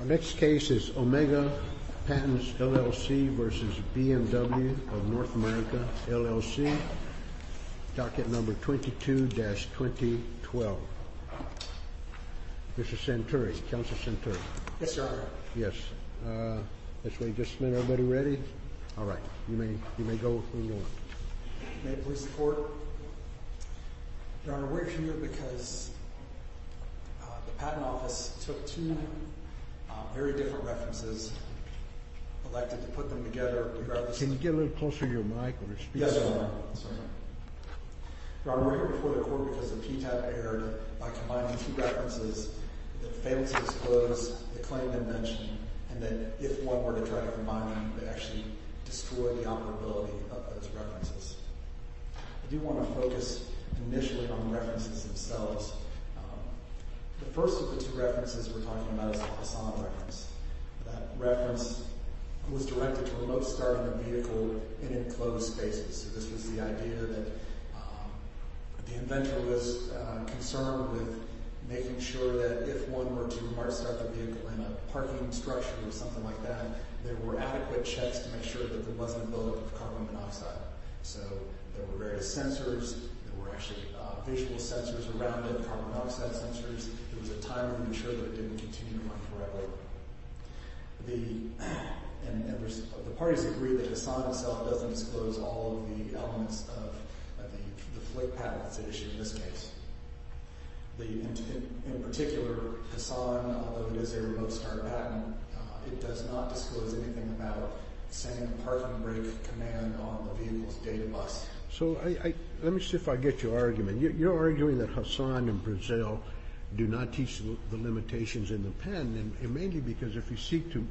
Our next case is Omega Patents, LLC v. BMW of North America, LLC Docket Number 22-2012 Mr. Santuri, Counsel Santuri Yes, Your Honor Yes, this way just a minute, everybody ready? All right, you may go if you want May I please report? Your Honor, we're here because the Patent Office took two very different references, elected to put them together Can you get a little closer to your mic? Yes, Your Honor Your Honor, we're here before the Court because the PTAB erred by combining two references that failed to disclose the claim they mentioned and that if one were to try to combine them, they actually destroyed the operability of those references I do want to focus initially on the references themselves The first of the two references we're talking about is the Hassan reference That reference was directed to a remote start of the vehicle in enclosed spaces So this was the idea that the inventor was concerned with making sure that if one were to start the vehicle in a parking structure or something like that there were adequate checks to make sure that there wasn't a load of carbon monoxide So there were various sensors, there were actually visual sensors around it, carbon monoxide sensors There was a time limit to make sure that it didn't continue to run forever The parties agreed that Hassan itself doesn't disclose all of the elements of the fleet patents issued in this case In particular, Hassan, although it is a remote start patent, it does not disclose anything about sending a parking brake command on the vehicle's data bus So let me see if I get your argument You're arguing that Hassan and Brazil do not teach the limitations in the patent mainly because if you seek to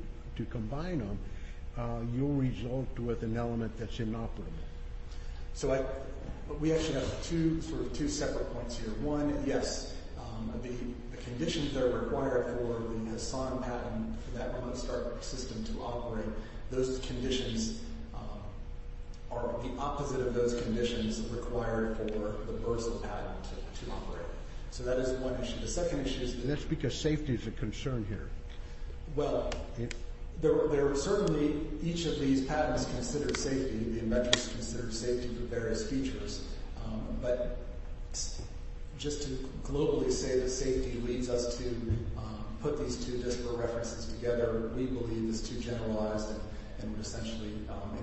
combine them, you'll result with an element that's inoperable So we actually have two separate points here One, yes, the conditions that are required for the Hassan patent for that remote start system to operate Those conditions are the opposite of those conditions required for the Brazil patent to operate So that is one issue The second issue is that And that's because safety is a concern here Well, certainly each of these patents considered safety The inventors considered safety for various features But just to globally say that safety leads us to put these two disparate references together We believe it's too generalized and would essentially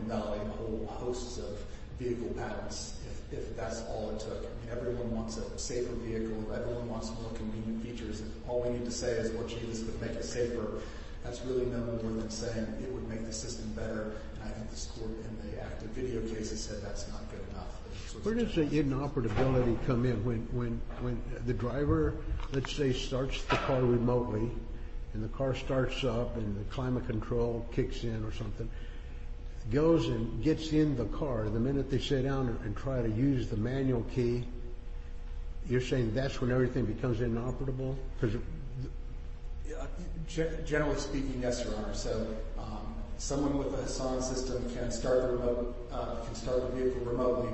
invalidate a whole host of vehicle patents If that's all it took Everyone wants a safer vehicle Everyone wants more convenient features All we need to say is, well, gee, this would make it safer That's really no more than saying it would make the system better And I think the support in the active video case has said that's not good enough Where does the inoperability come in? When the driver, let's say, starts the car remotely And the car starts up and the climate control kicks in or something Goes and gets in the car The minute they sit down and try to use the manual key You're saying that's when everything becomes inoperable? Generally speaking, yes, Your Honor So someone with a Hassan system can start the vehicle remotely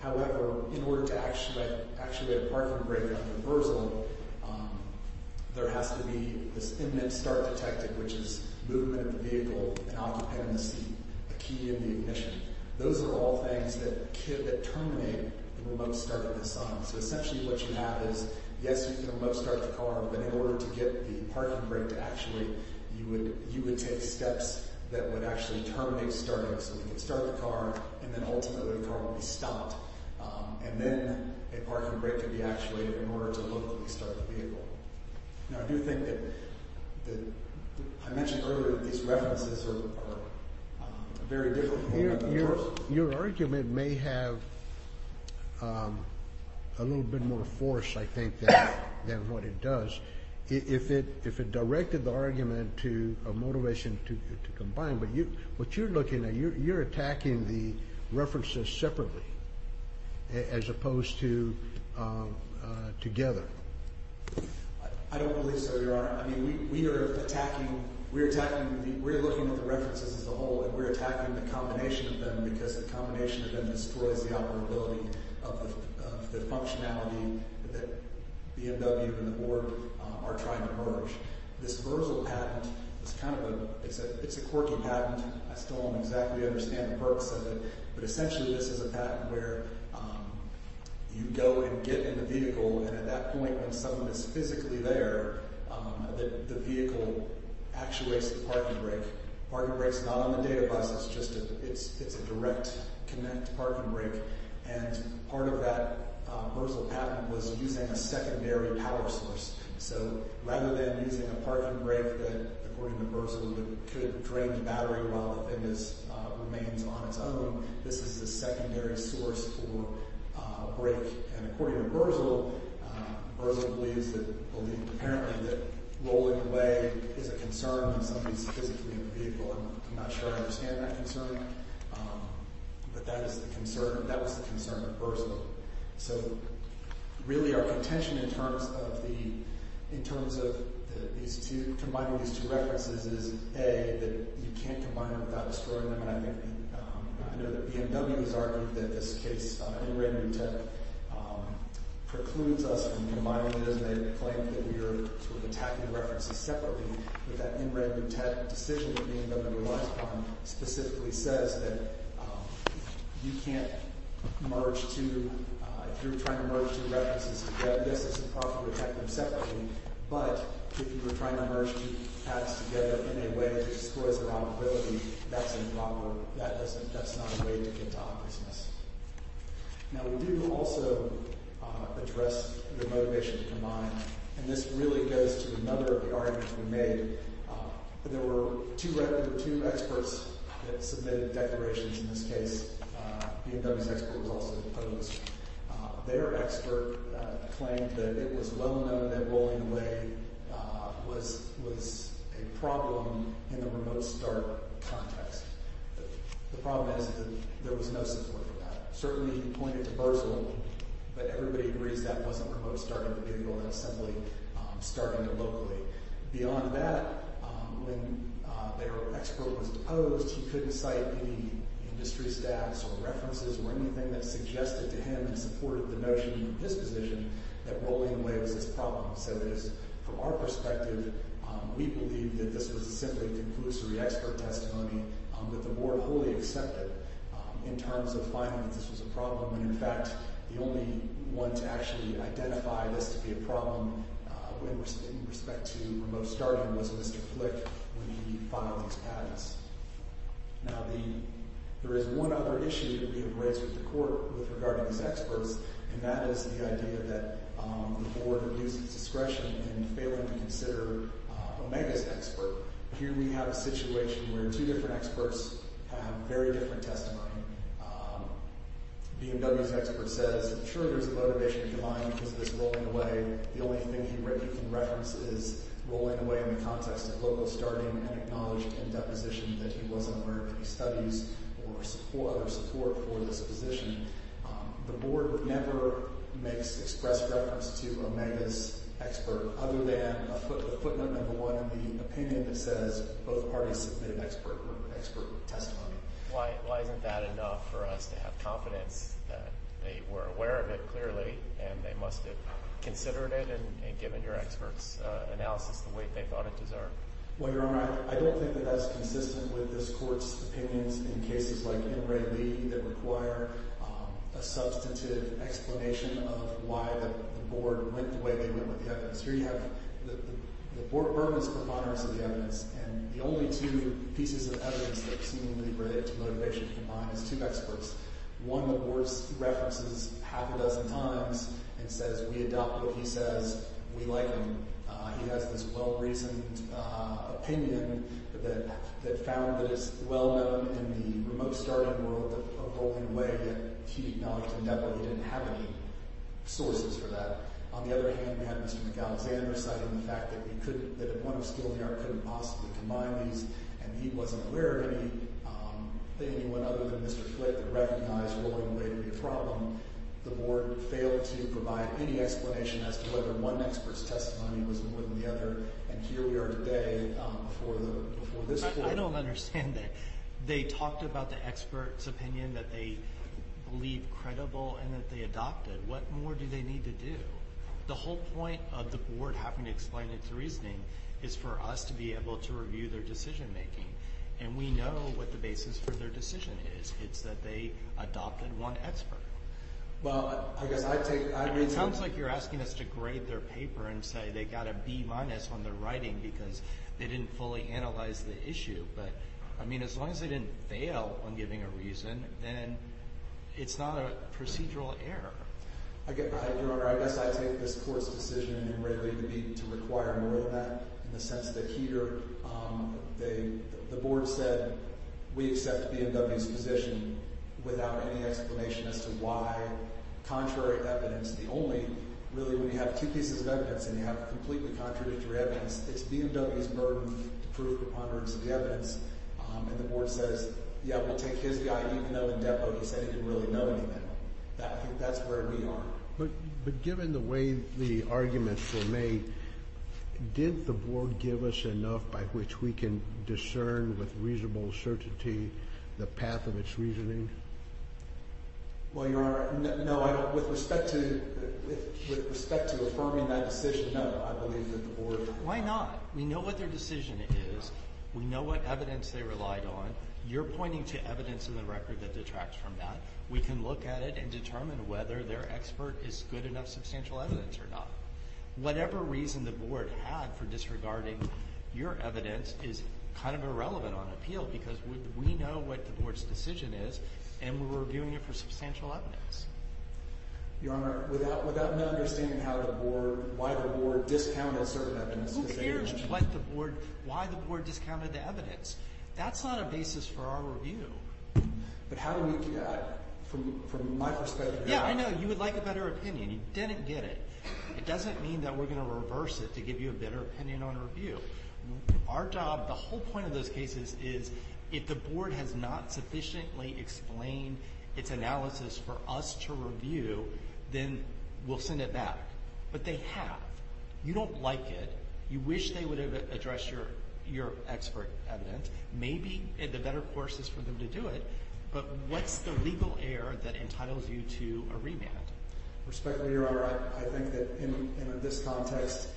However, in order to actually have a parking brake on a reversal There has to be this imminent start detected Which is movement of the vehicle and occupant in the seat A key in the ignition Those are all things that terminate the remote start of the Hassan So essentially what you have is Yes, you can remote start the car But in order to get the parking brake to actuate You would take steps that would actually terminate starting So you can start the car and then ultimately the car will be stopped And then a parking brake can be actuated In order to locally start the vehicle Now I do think that I mentioned earlier that these references are very difficult Your argument may have a little bit more force I think, than what it does If it directed the argument to a motivation to combine What you're looking at, you're attacking the references separately As opposed to together I don't believe so, Your Honor I mean, we are attacking We're attacking, we're looking at the references as a whole And we're attacking the combination of them Because the combination of them destroys the operability Of the functionality that the BMW and the board are trying to merge This Verzal patent is kind of a It's a quirky patent I still don't exactly understand the purpose of it But essentially this is a patent where You go and get in the vehicle And at that point when someone is physically there The vehicle actuates the parking brake Parking brake is not on the data bus It's a direct connect parking brake And part of that Verzal patent was using a secondary power source So rather than using a parking brake that according to Verzal Could drain the battery while the thing remains on its own This is a secondary source for brake And according to Verzal Verzal believes that Apparently that rolling away is a concern When somebody is physically in the vehicle I'm not sure I understand that concern But that is the concern That was the concern of Verzal So really our contention in terms of the In terms of these two Combining these two references is A. That you can't combine them without destroying them I know that BMW has argued That this case In Ray Lutet Precludes us from the environment As they claim that we are Sort of attacking references separately But that in Ray Lutet decision That BMW relies upon Specifically says that You can't merge two If you're trying to merge two references together Yes it's a problem to attack them separately But if you were trying to merge Two paths together in a way That destroys the probability That's a problem That's not a way to get to opportunities Now we do also Address the motivation to combine And this really goes to Another of the arguments we made There were two experts That submitted declarations In this case BMW's expert was also opposed Their expert Claimed that it was well known That rolling away Was A problem in the remote start Context The problem is that there was no Support for that. Certainly he pointed to Bersel, but everybody agrees That wasn't remote starting for Google That was simply starting it locally Beyond that When their expert was opposed He couldn't cite any Industry stats or references Or anything that suggested to him And supported the notion in his position That rolling away was a problem So from our perspective We believe that this was a simply Conclusive re-expert testimony That the board wholly accepted In terms of finding that this was a problem And in fact the only One to actually identify this To be a problem In respect to remote starting Was Mr. Flick when he filed These patents Now there is one other issue That we have raised with the court With regard to these experts And that is the idea that The board reduces discretion In failing to consider Omega's expert Here we have a situation Where two different experts Have very different testimony BMW's expert says Sure there's a motivation behind Because of this rolling away The only thing he can reference is Rolling away in the context of local starting And acknowledged in deposition That he wasn't aware of any studies Or other support for this position The board never Makes express reference To Omega's expert Other than a footnote number one In the opinion that says Both parties submitted expert Testimony Why isn't that enough for us to have confidence That they were aware of it clearly And they must have considered it And given your expert's analysis The weight they thought it deserved Well your honor I don't think that Is consistent with this court's Opinions in cases like M. Ray Lee That require a substantive Explanation of why The board went the way they went With the evidence Here you have the board burdens The evidence And the only two pieces of evidence That seem to be related to motivation Combined is two experts One the board references half a dozen times And says we adopt what he says We like him He has this well reasoned Opinion That found that it's well known In the remote starting world Of rolling away that he acknowledged In that way he didn't have any Sources for that On the other hand we have Mr. McAlexander Citing the fact that he couldn't At the point of skill he couldn't possibly combine these And he wasn't aware of anyone Other than Mr. Flitt that recognized Rolling away would be a problem The board failed to provide any Testimony And here we are today I don't understand They talked about the experts Opinion that they believe Credible and that they adopted What more do they need to do The whole point of the board having to explain It's reasoning is for us to be Able to review their decision making And we know what the basis for their Decision is it's that they Adopted one expert Well I guess I take It sounds like you're asking us to grade Their paper and say they got a B minus On their writing because they didn't Fully analyze the issue but I mean as long as they didn't fail On giving a reason then It's not a procedural error Your honor I guess I take This court's decision in Rayleigh to be To require more of that In the sense that here The board said We accept BMW's position Without any explanation as to why Contrary evidence the only Really when you have two pieces of evidence And you have completely contradictory evidence It's BMW's burden to prove The ponderance of the evidence And the board says yeah we'll take his guy Even though in depo he said he didn't really know anything I think that's where we are But given the way The arguments were made Did the board give us enough By which we can discern With reasonable certainty The path of it's reasoning Well your honor No I don't with respect to With respect to affirming that decision No I believe that the board Why not? We know what their decision is We know what evidence they relied on You're pointing to evidence In the record that detracts from that We can look at it and determine whether Their expert is good enough substantial evidence Or not. Whatever reason The board had for disregarding Your evidence is kind of Irrelevant on appeal because We know what the board's decision is And we're reviewing it for substantial evidence Your honor Without my understanding how the board Why the board discounted certain evidence Who cares what the board Why the board discounted the evidence That's not a basis for our review But how do we From my perspective Yeah I know you would like a better opinion You didn't get it. It doesn't mean that we're going to Reverse it to give you a better opinion on a review Our job The whole point of those cases is If the board has not sufficiently Explained its analysis For us to review Then we'll send it back But they have. You don't like it You wish they would have addressed Your expert evidence Maybe the better course is for them To do it but what's the legal Error that entitles you to A remand. Respectfully your honor I think that in this context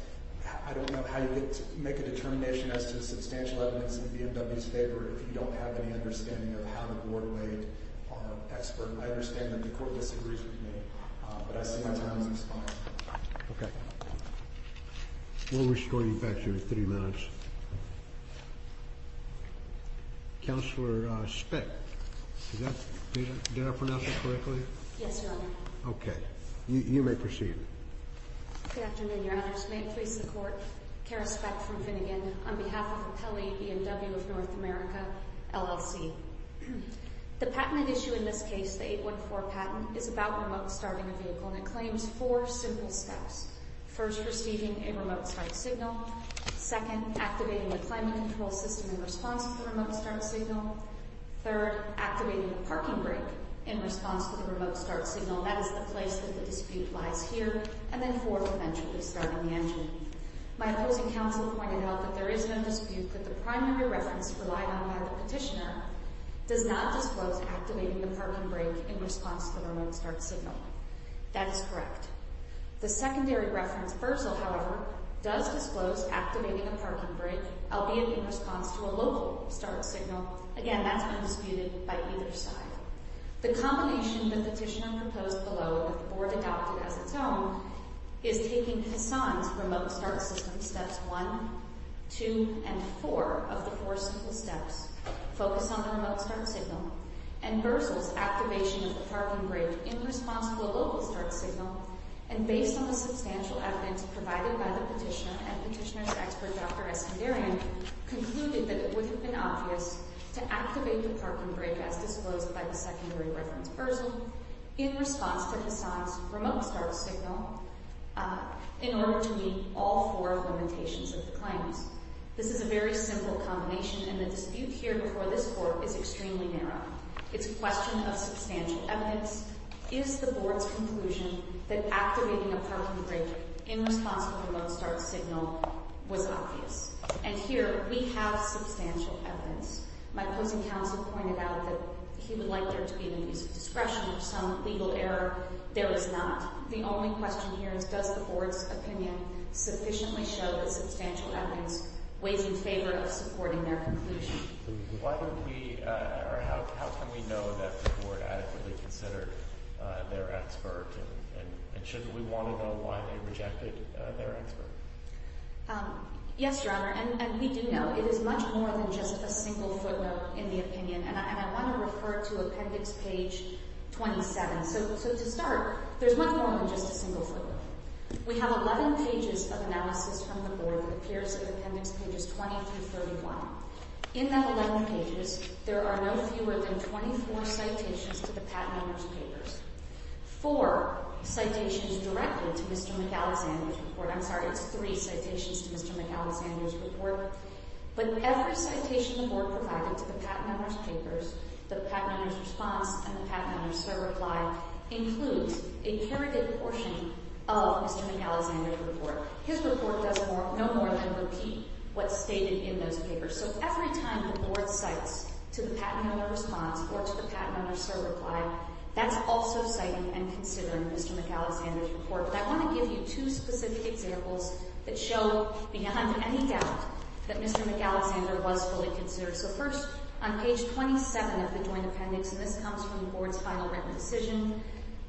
I don't know how you Make a determination as to substantial Evidence in BMW's favor If you don't have any understanding of how the board Weighed expert. I understand That the court disagrees with me But I see my time has expired Okay We'll restore you back here in three minutes Counselor Spick Did I pronounce that correctly? Yes your honor. Okay. You may proceed Good afternoon your honor May it please the court Cara Speck from Finnegan On behalf of Apelli BMW of North America LLC The patent issue in this case The 814 patent is about remote starting A vehicle and it claims four simple steps First receiving a remote start Signal. Second Activating the climate control system In response to the remote start signal Third activating the parking brake In response to the remote start signal That is the place that the dispute lies Here and then fourth eventually Starting the engine. My opposing counsel Pointed out that there is no dispute That the primary reference relied on by the Petitioner does not disclose Activating the parking brake in response To the remote start signal That is correct. The secondary Reference versal however Does disclose activating the parking brake Albeit in response to a local Start signal. Again that's Undisputed by either side The combination that the petitioner Has its own is taking Hassan's remote start system Steps one, two and Four of the four simple steps Focus on the remote start signal And versal's activation Of the parking brake in response to the Local start signal and based on The substantial evidence provided by the Petitioner and petitioner's expert Dr. Eskandarian concluded that It would have been obvious to activate The parking brake as disclosed by the Secondary reference versal In response to Hassan's remote Start signal in order to Meet all four Limitations of the claims. This is A very simple combination and the Dispute here before this court is Extremely narrow. It's a question of Substantial evidence. Is the Board's conclusion that activating A parking brake in response To a remote start signal was Obvious? And here we have Substantial evidence. My Opposing counsel pointed out that He would like there to be the use of discretion Or some legal error. There is not The only question here is does The board's opinion sufficiently Show that substantial evidence Weighs in favor of supporting their conclusion Why don't we Or how can we know that the Board adequately considered Their expert and Shouldn't we want to know why they rejected Their expert? Yes your honor and we do know It is much more than just a single footnote In the opinion and I want to Refer to appendix page 27 So to start There's much more than just a single footnote We have 11 pages of analysis From the board that appears in appendix pages 20 through 31 In that 11 pages there are no Fewer than 24 citations To the patent owners papers Four citations Directly to Mr. McAlexander's report I'm sorry it's three citations to Mr. McAlexander's Report But every citation The board provided to the patent owner's papers The patent owner's response And the patent owner's sole reply Includes a curated portion Of Mr. McAlexander's report His report does no more than Repeat what's stated in those papers So every time the board cites To the patent owner's response Or to the patent owner's sole reply That's also citing and considering Mr. McAlexander's report But I want to give you two specific examples That show beyond any doubt That Mr. McAlexander Was fully considered So first on page 27 of the joint appendix And this comes from the board's final written decision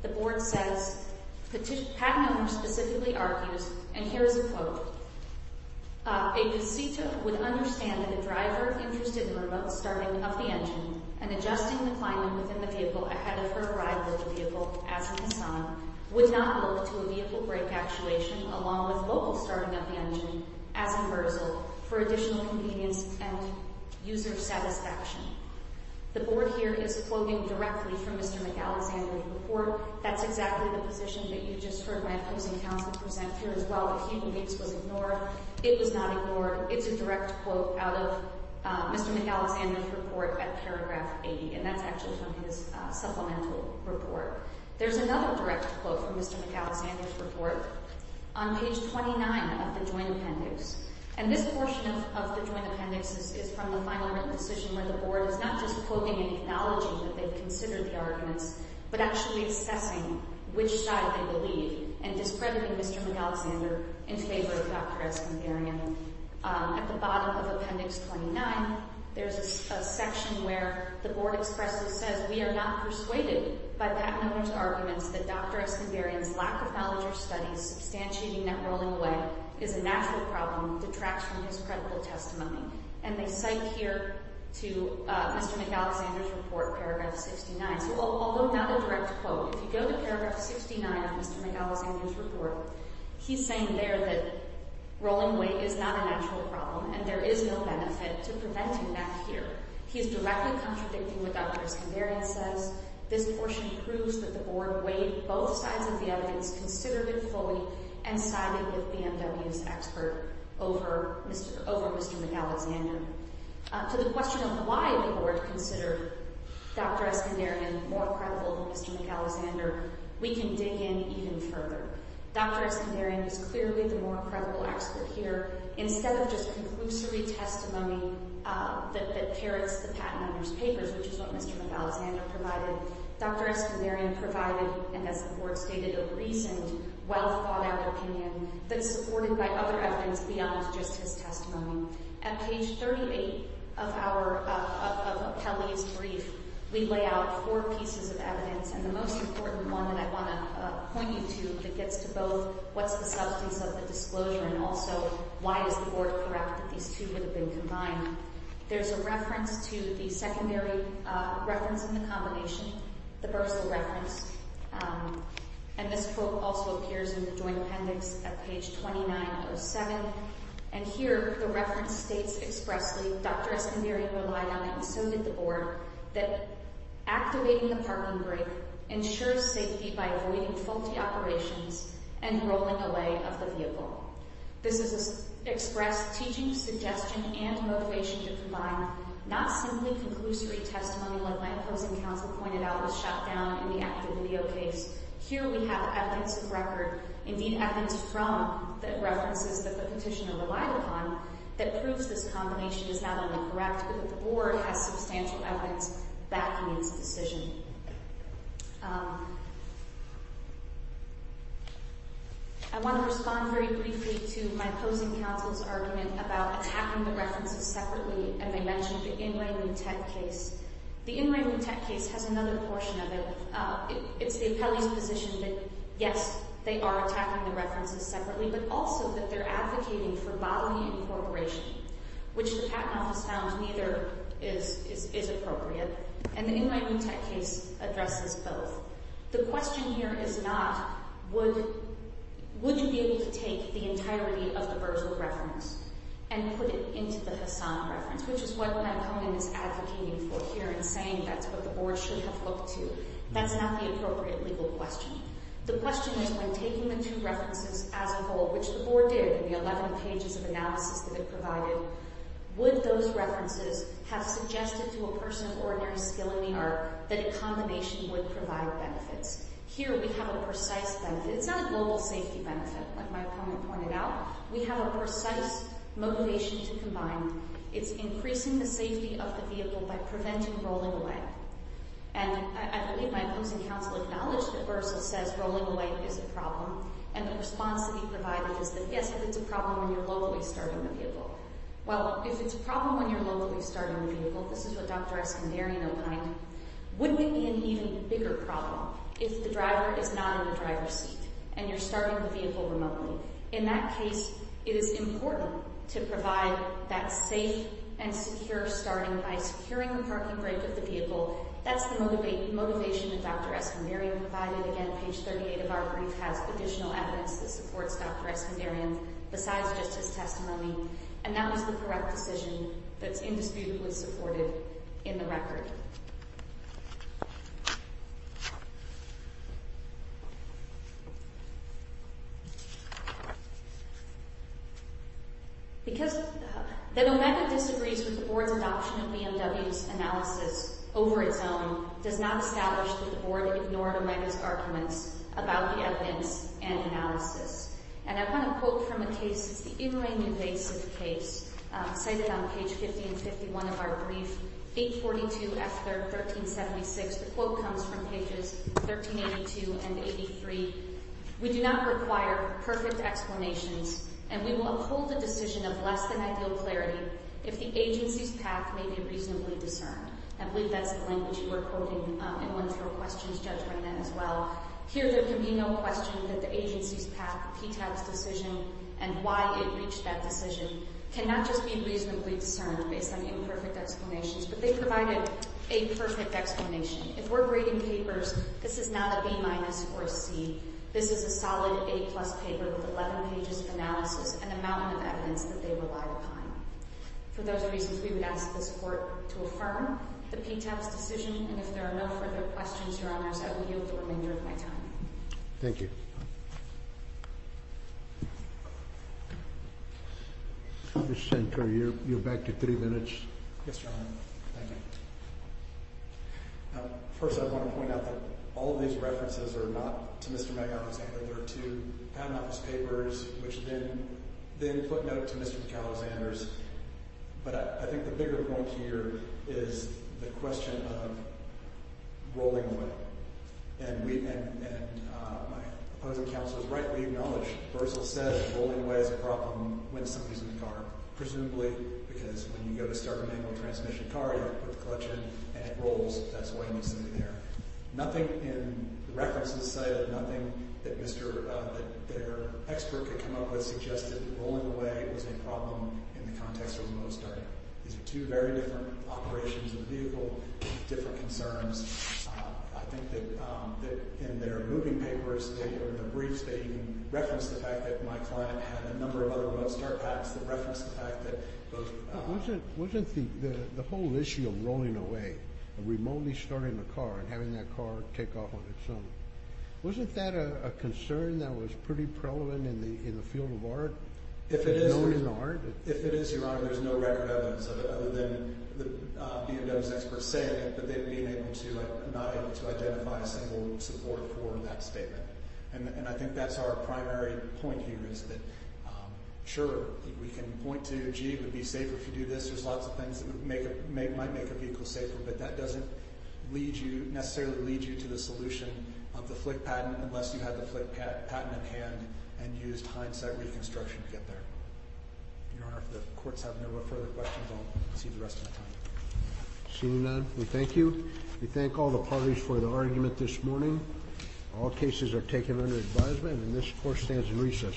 The board says The patent owner specifically argues And here is a quote A visita would understand That a driver interested in Remote starting of the engine And adjusting the climate within the vehicle Ahead of her ride with the vehicle As an assignment Would not look to a vehicle brake actuation Along with local starting of the engine As a reversal For additional convenience And user satisfaction The board here is quoting directly From Mr. McAlexander's report That's exactly the position that you just heard My opposing counsel present here as well That he believes was ignored It was not ignored, it's a direct quote Out of Mr. McAlexander's Report at paragraph 80 And that's actually from his supplemental report There's another direct quote From Mr. McAlexander's report On page 29 of the joint appendix And this portion of the joint appendix Is from the final written decision Where the board is not just quoting And acknowledging that they've considered the arguments But actually assessing Which side they believe And discrediting Mr. McAlexander In favor of Dr. Eskinderian At the bottom of appendix 29 There's a section Where the board expressly says We are not persuaded by that member's Arguments that Dr. Eskinderian's Lack of knowledge or studies substantiating That rolling away is a natural problem Detracts from his credible testimony And they cite here To Mr. McAlexander's Report paragraph 69 So although not a direct quote If you go to paragraph 69 of Mr. McAlexander's Report, he's saying there that Rolling away is not a natural Problem and there is no benefit To preventing that here He's directly contradicting what Dr. Eskinderian Says. This portion Proves that the board weighed both sides Of the evidence considerably fully And sided with BMW's Expert over Mr. McAlexander To the question of why the board Considered Dr. Eskinderian More credible than Mr. McAlexander We can dig in even further Dr. Eskinderian is clearly The more credible expert here Instead of just conclusory testimony That parrots the Patent owner's papers which is what Mr. McAlexander Provided. Dr. Eskinderian Provided and as the board stated A recent well thought out Opinion that is supported by other Evidence beyond just his testimony At page 38 of our Of Kelly's brief We lay out four pieces Of evidence and the most important one That I want to point you to That gets to both what's the substance of the Disclosure and also why is the So correct that these two would have been combined There's a reference to the Secondary reference in the Combination, the Bursa reference And this Quote also appears in the joint appendix At page 2907 And here the reference States expressly Dr. Eskinderian Relied on and so did the board That activating the parking Brake ensures safety by Avoiding faulty operations And rolling away of the vehicle This is expressed Teaching, suggestion and motivation To combine not simply Conclusory testimony like my opposing Council pointed out was shut down in the Active video case. Here we have Evidence of record, indeed evidence From the references that the Petitioner relied upon that proves This combination is not only correct But that the board has substantial evidence Backing its decision I want to respond Very briefly to my opposing Council's argument about attacking The references separately And I mentioned the In Re Mutet case The In Re Mutet case has another Portion of it It's the appellee's position that Yes, they are attacking the references Separately but also that they're advocating For bodily incorporation Which the patent office found Neither is appropriate And the In Re Mutet case Addresses both The question here is not Would you be able to take The entirety of the Berzog reference And put it into the Hassan Reference, which is what my opponent Is advocating for here and saying that's What the board should have looked to That's not the appropriate legal question The question is when taking the two References as a whole, which the board did In the 11 pages of analysis that it provided Would those references Have suggested to a person With extraordinary skill in the art That a combination would provide benefits Here we have a precise benefit It's not a global safety benefit Like my opponent pointed out We have a precise motivation to combine It's increasing the safety of the vehicle By preventing rolling away And I believe my opposing Council acknowledged that Berzog says Rolling away is a problem And the response that he provided is that yes If it's a problem when you're locally starting the vehicle Well, if it's a problem when you're locally Starting the vehicle, this is what Dr. Eskandarian Opined, would it be an even Bigger problem if the driver Is not in the driver's seat And you're starting the vehicle remotely In that case, it is important To provide that safe And secure starting by securing The parking brake of the vehicle That's the motivation that Dr. Eskandarian Provided, again, page 38 Of our brief has additional evidence That supports Dr. Eskandarian Besides just his testimony And that was the correct decision That's indisputably supported In the record Because That Omega disagrees with the Board's Adoption of BMW's analysis Over its own does not establish That the Board ignored Omega's Arguments about the evidence And analysis, and I want to quote From a case, it's the in-ring invasive Case, cited on page 1551 of our brief 842F1376 The quote comes from pages 1382 and 83 We do not require perfect Explanations, and we will uphold A decision of less than ideal clarity If the agency's path May be reasonably discerned I believe that's the language you were quoting In one of your questions, Judge, as well Here there can be no question that the agency's Path, PTAB's decision, and why It reached that decision can not Just be reasonably discerned based on Imperfect explanations, but they provided A perfect explanation If we're grading papers, this is not a B Minus or a C, this is a Solid A plus paper with 11 pages Of analysis and a mountain of evidence That they relied upon For those reasons, we would ask this Court To affirm the PTAB's decision And if there are no further questions, Your Honors I will yield the remainder of my time Thank you Mr. Shankar, you're back to three minutes Yes, Your Honor, thank you First, I want to point out that all of these references Are not to Mr. McAlexander They're to Pound Office papers Which then put note to Mr. McAlexander's But I think the bigger point here Is the question of Rolling with it And my Opposing counsel has rightly acknowledged Bercel said rolling away is a problem When somebody's in the car, presumably Because when you go to start a manual transmission Car, you put the clutch in, and it rolls That's when you see it there Nothing in the references Say that nothing that Mr. That their expert could come up with Suggested rolling away was a problem In the context of remote starting These are two very different operations Of the vehicle with different concerns I think that In their moving papers In their briefs, they reference the fact That my client had a number of other road start Packs that reference the fact that Wasn't The whole issue of rolling away And remotely starting the car And having that car take off on its own Wasn't that a concern that was Pretty prevalent in the field of art If it is If it is, Your Honor, there's no record of it Other than the B&W There's experts saying it, but they've been able to Not able to identify a single Support for that statement And I think that's our primary point here Is that, sure We can point to, gee, it would be safer If you do this, there's lots of things That might make a vehicle safer, but that doesn't Lead you, necessarily lead you To the solution of the flick patent Unless you had the flick patent at hand And used hindsight reconstruction To get there Your Honor, if the courts have no further questions I'll see you the rest of the time Seeing none, we thank you We thank all the parties for the argument this morning All cases are taken under advisement And this court stands in recess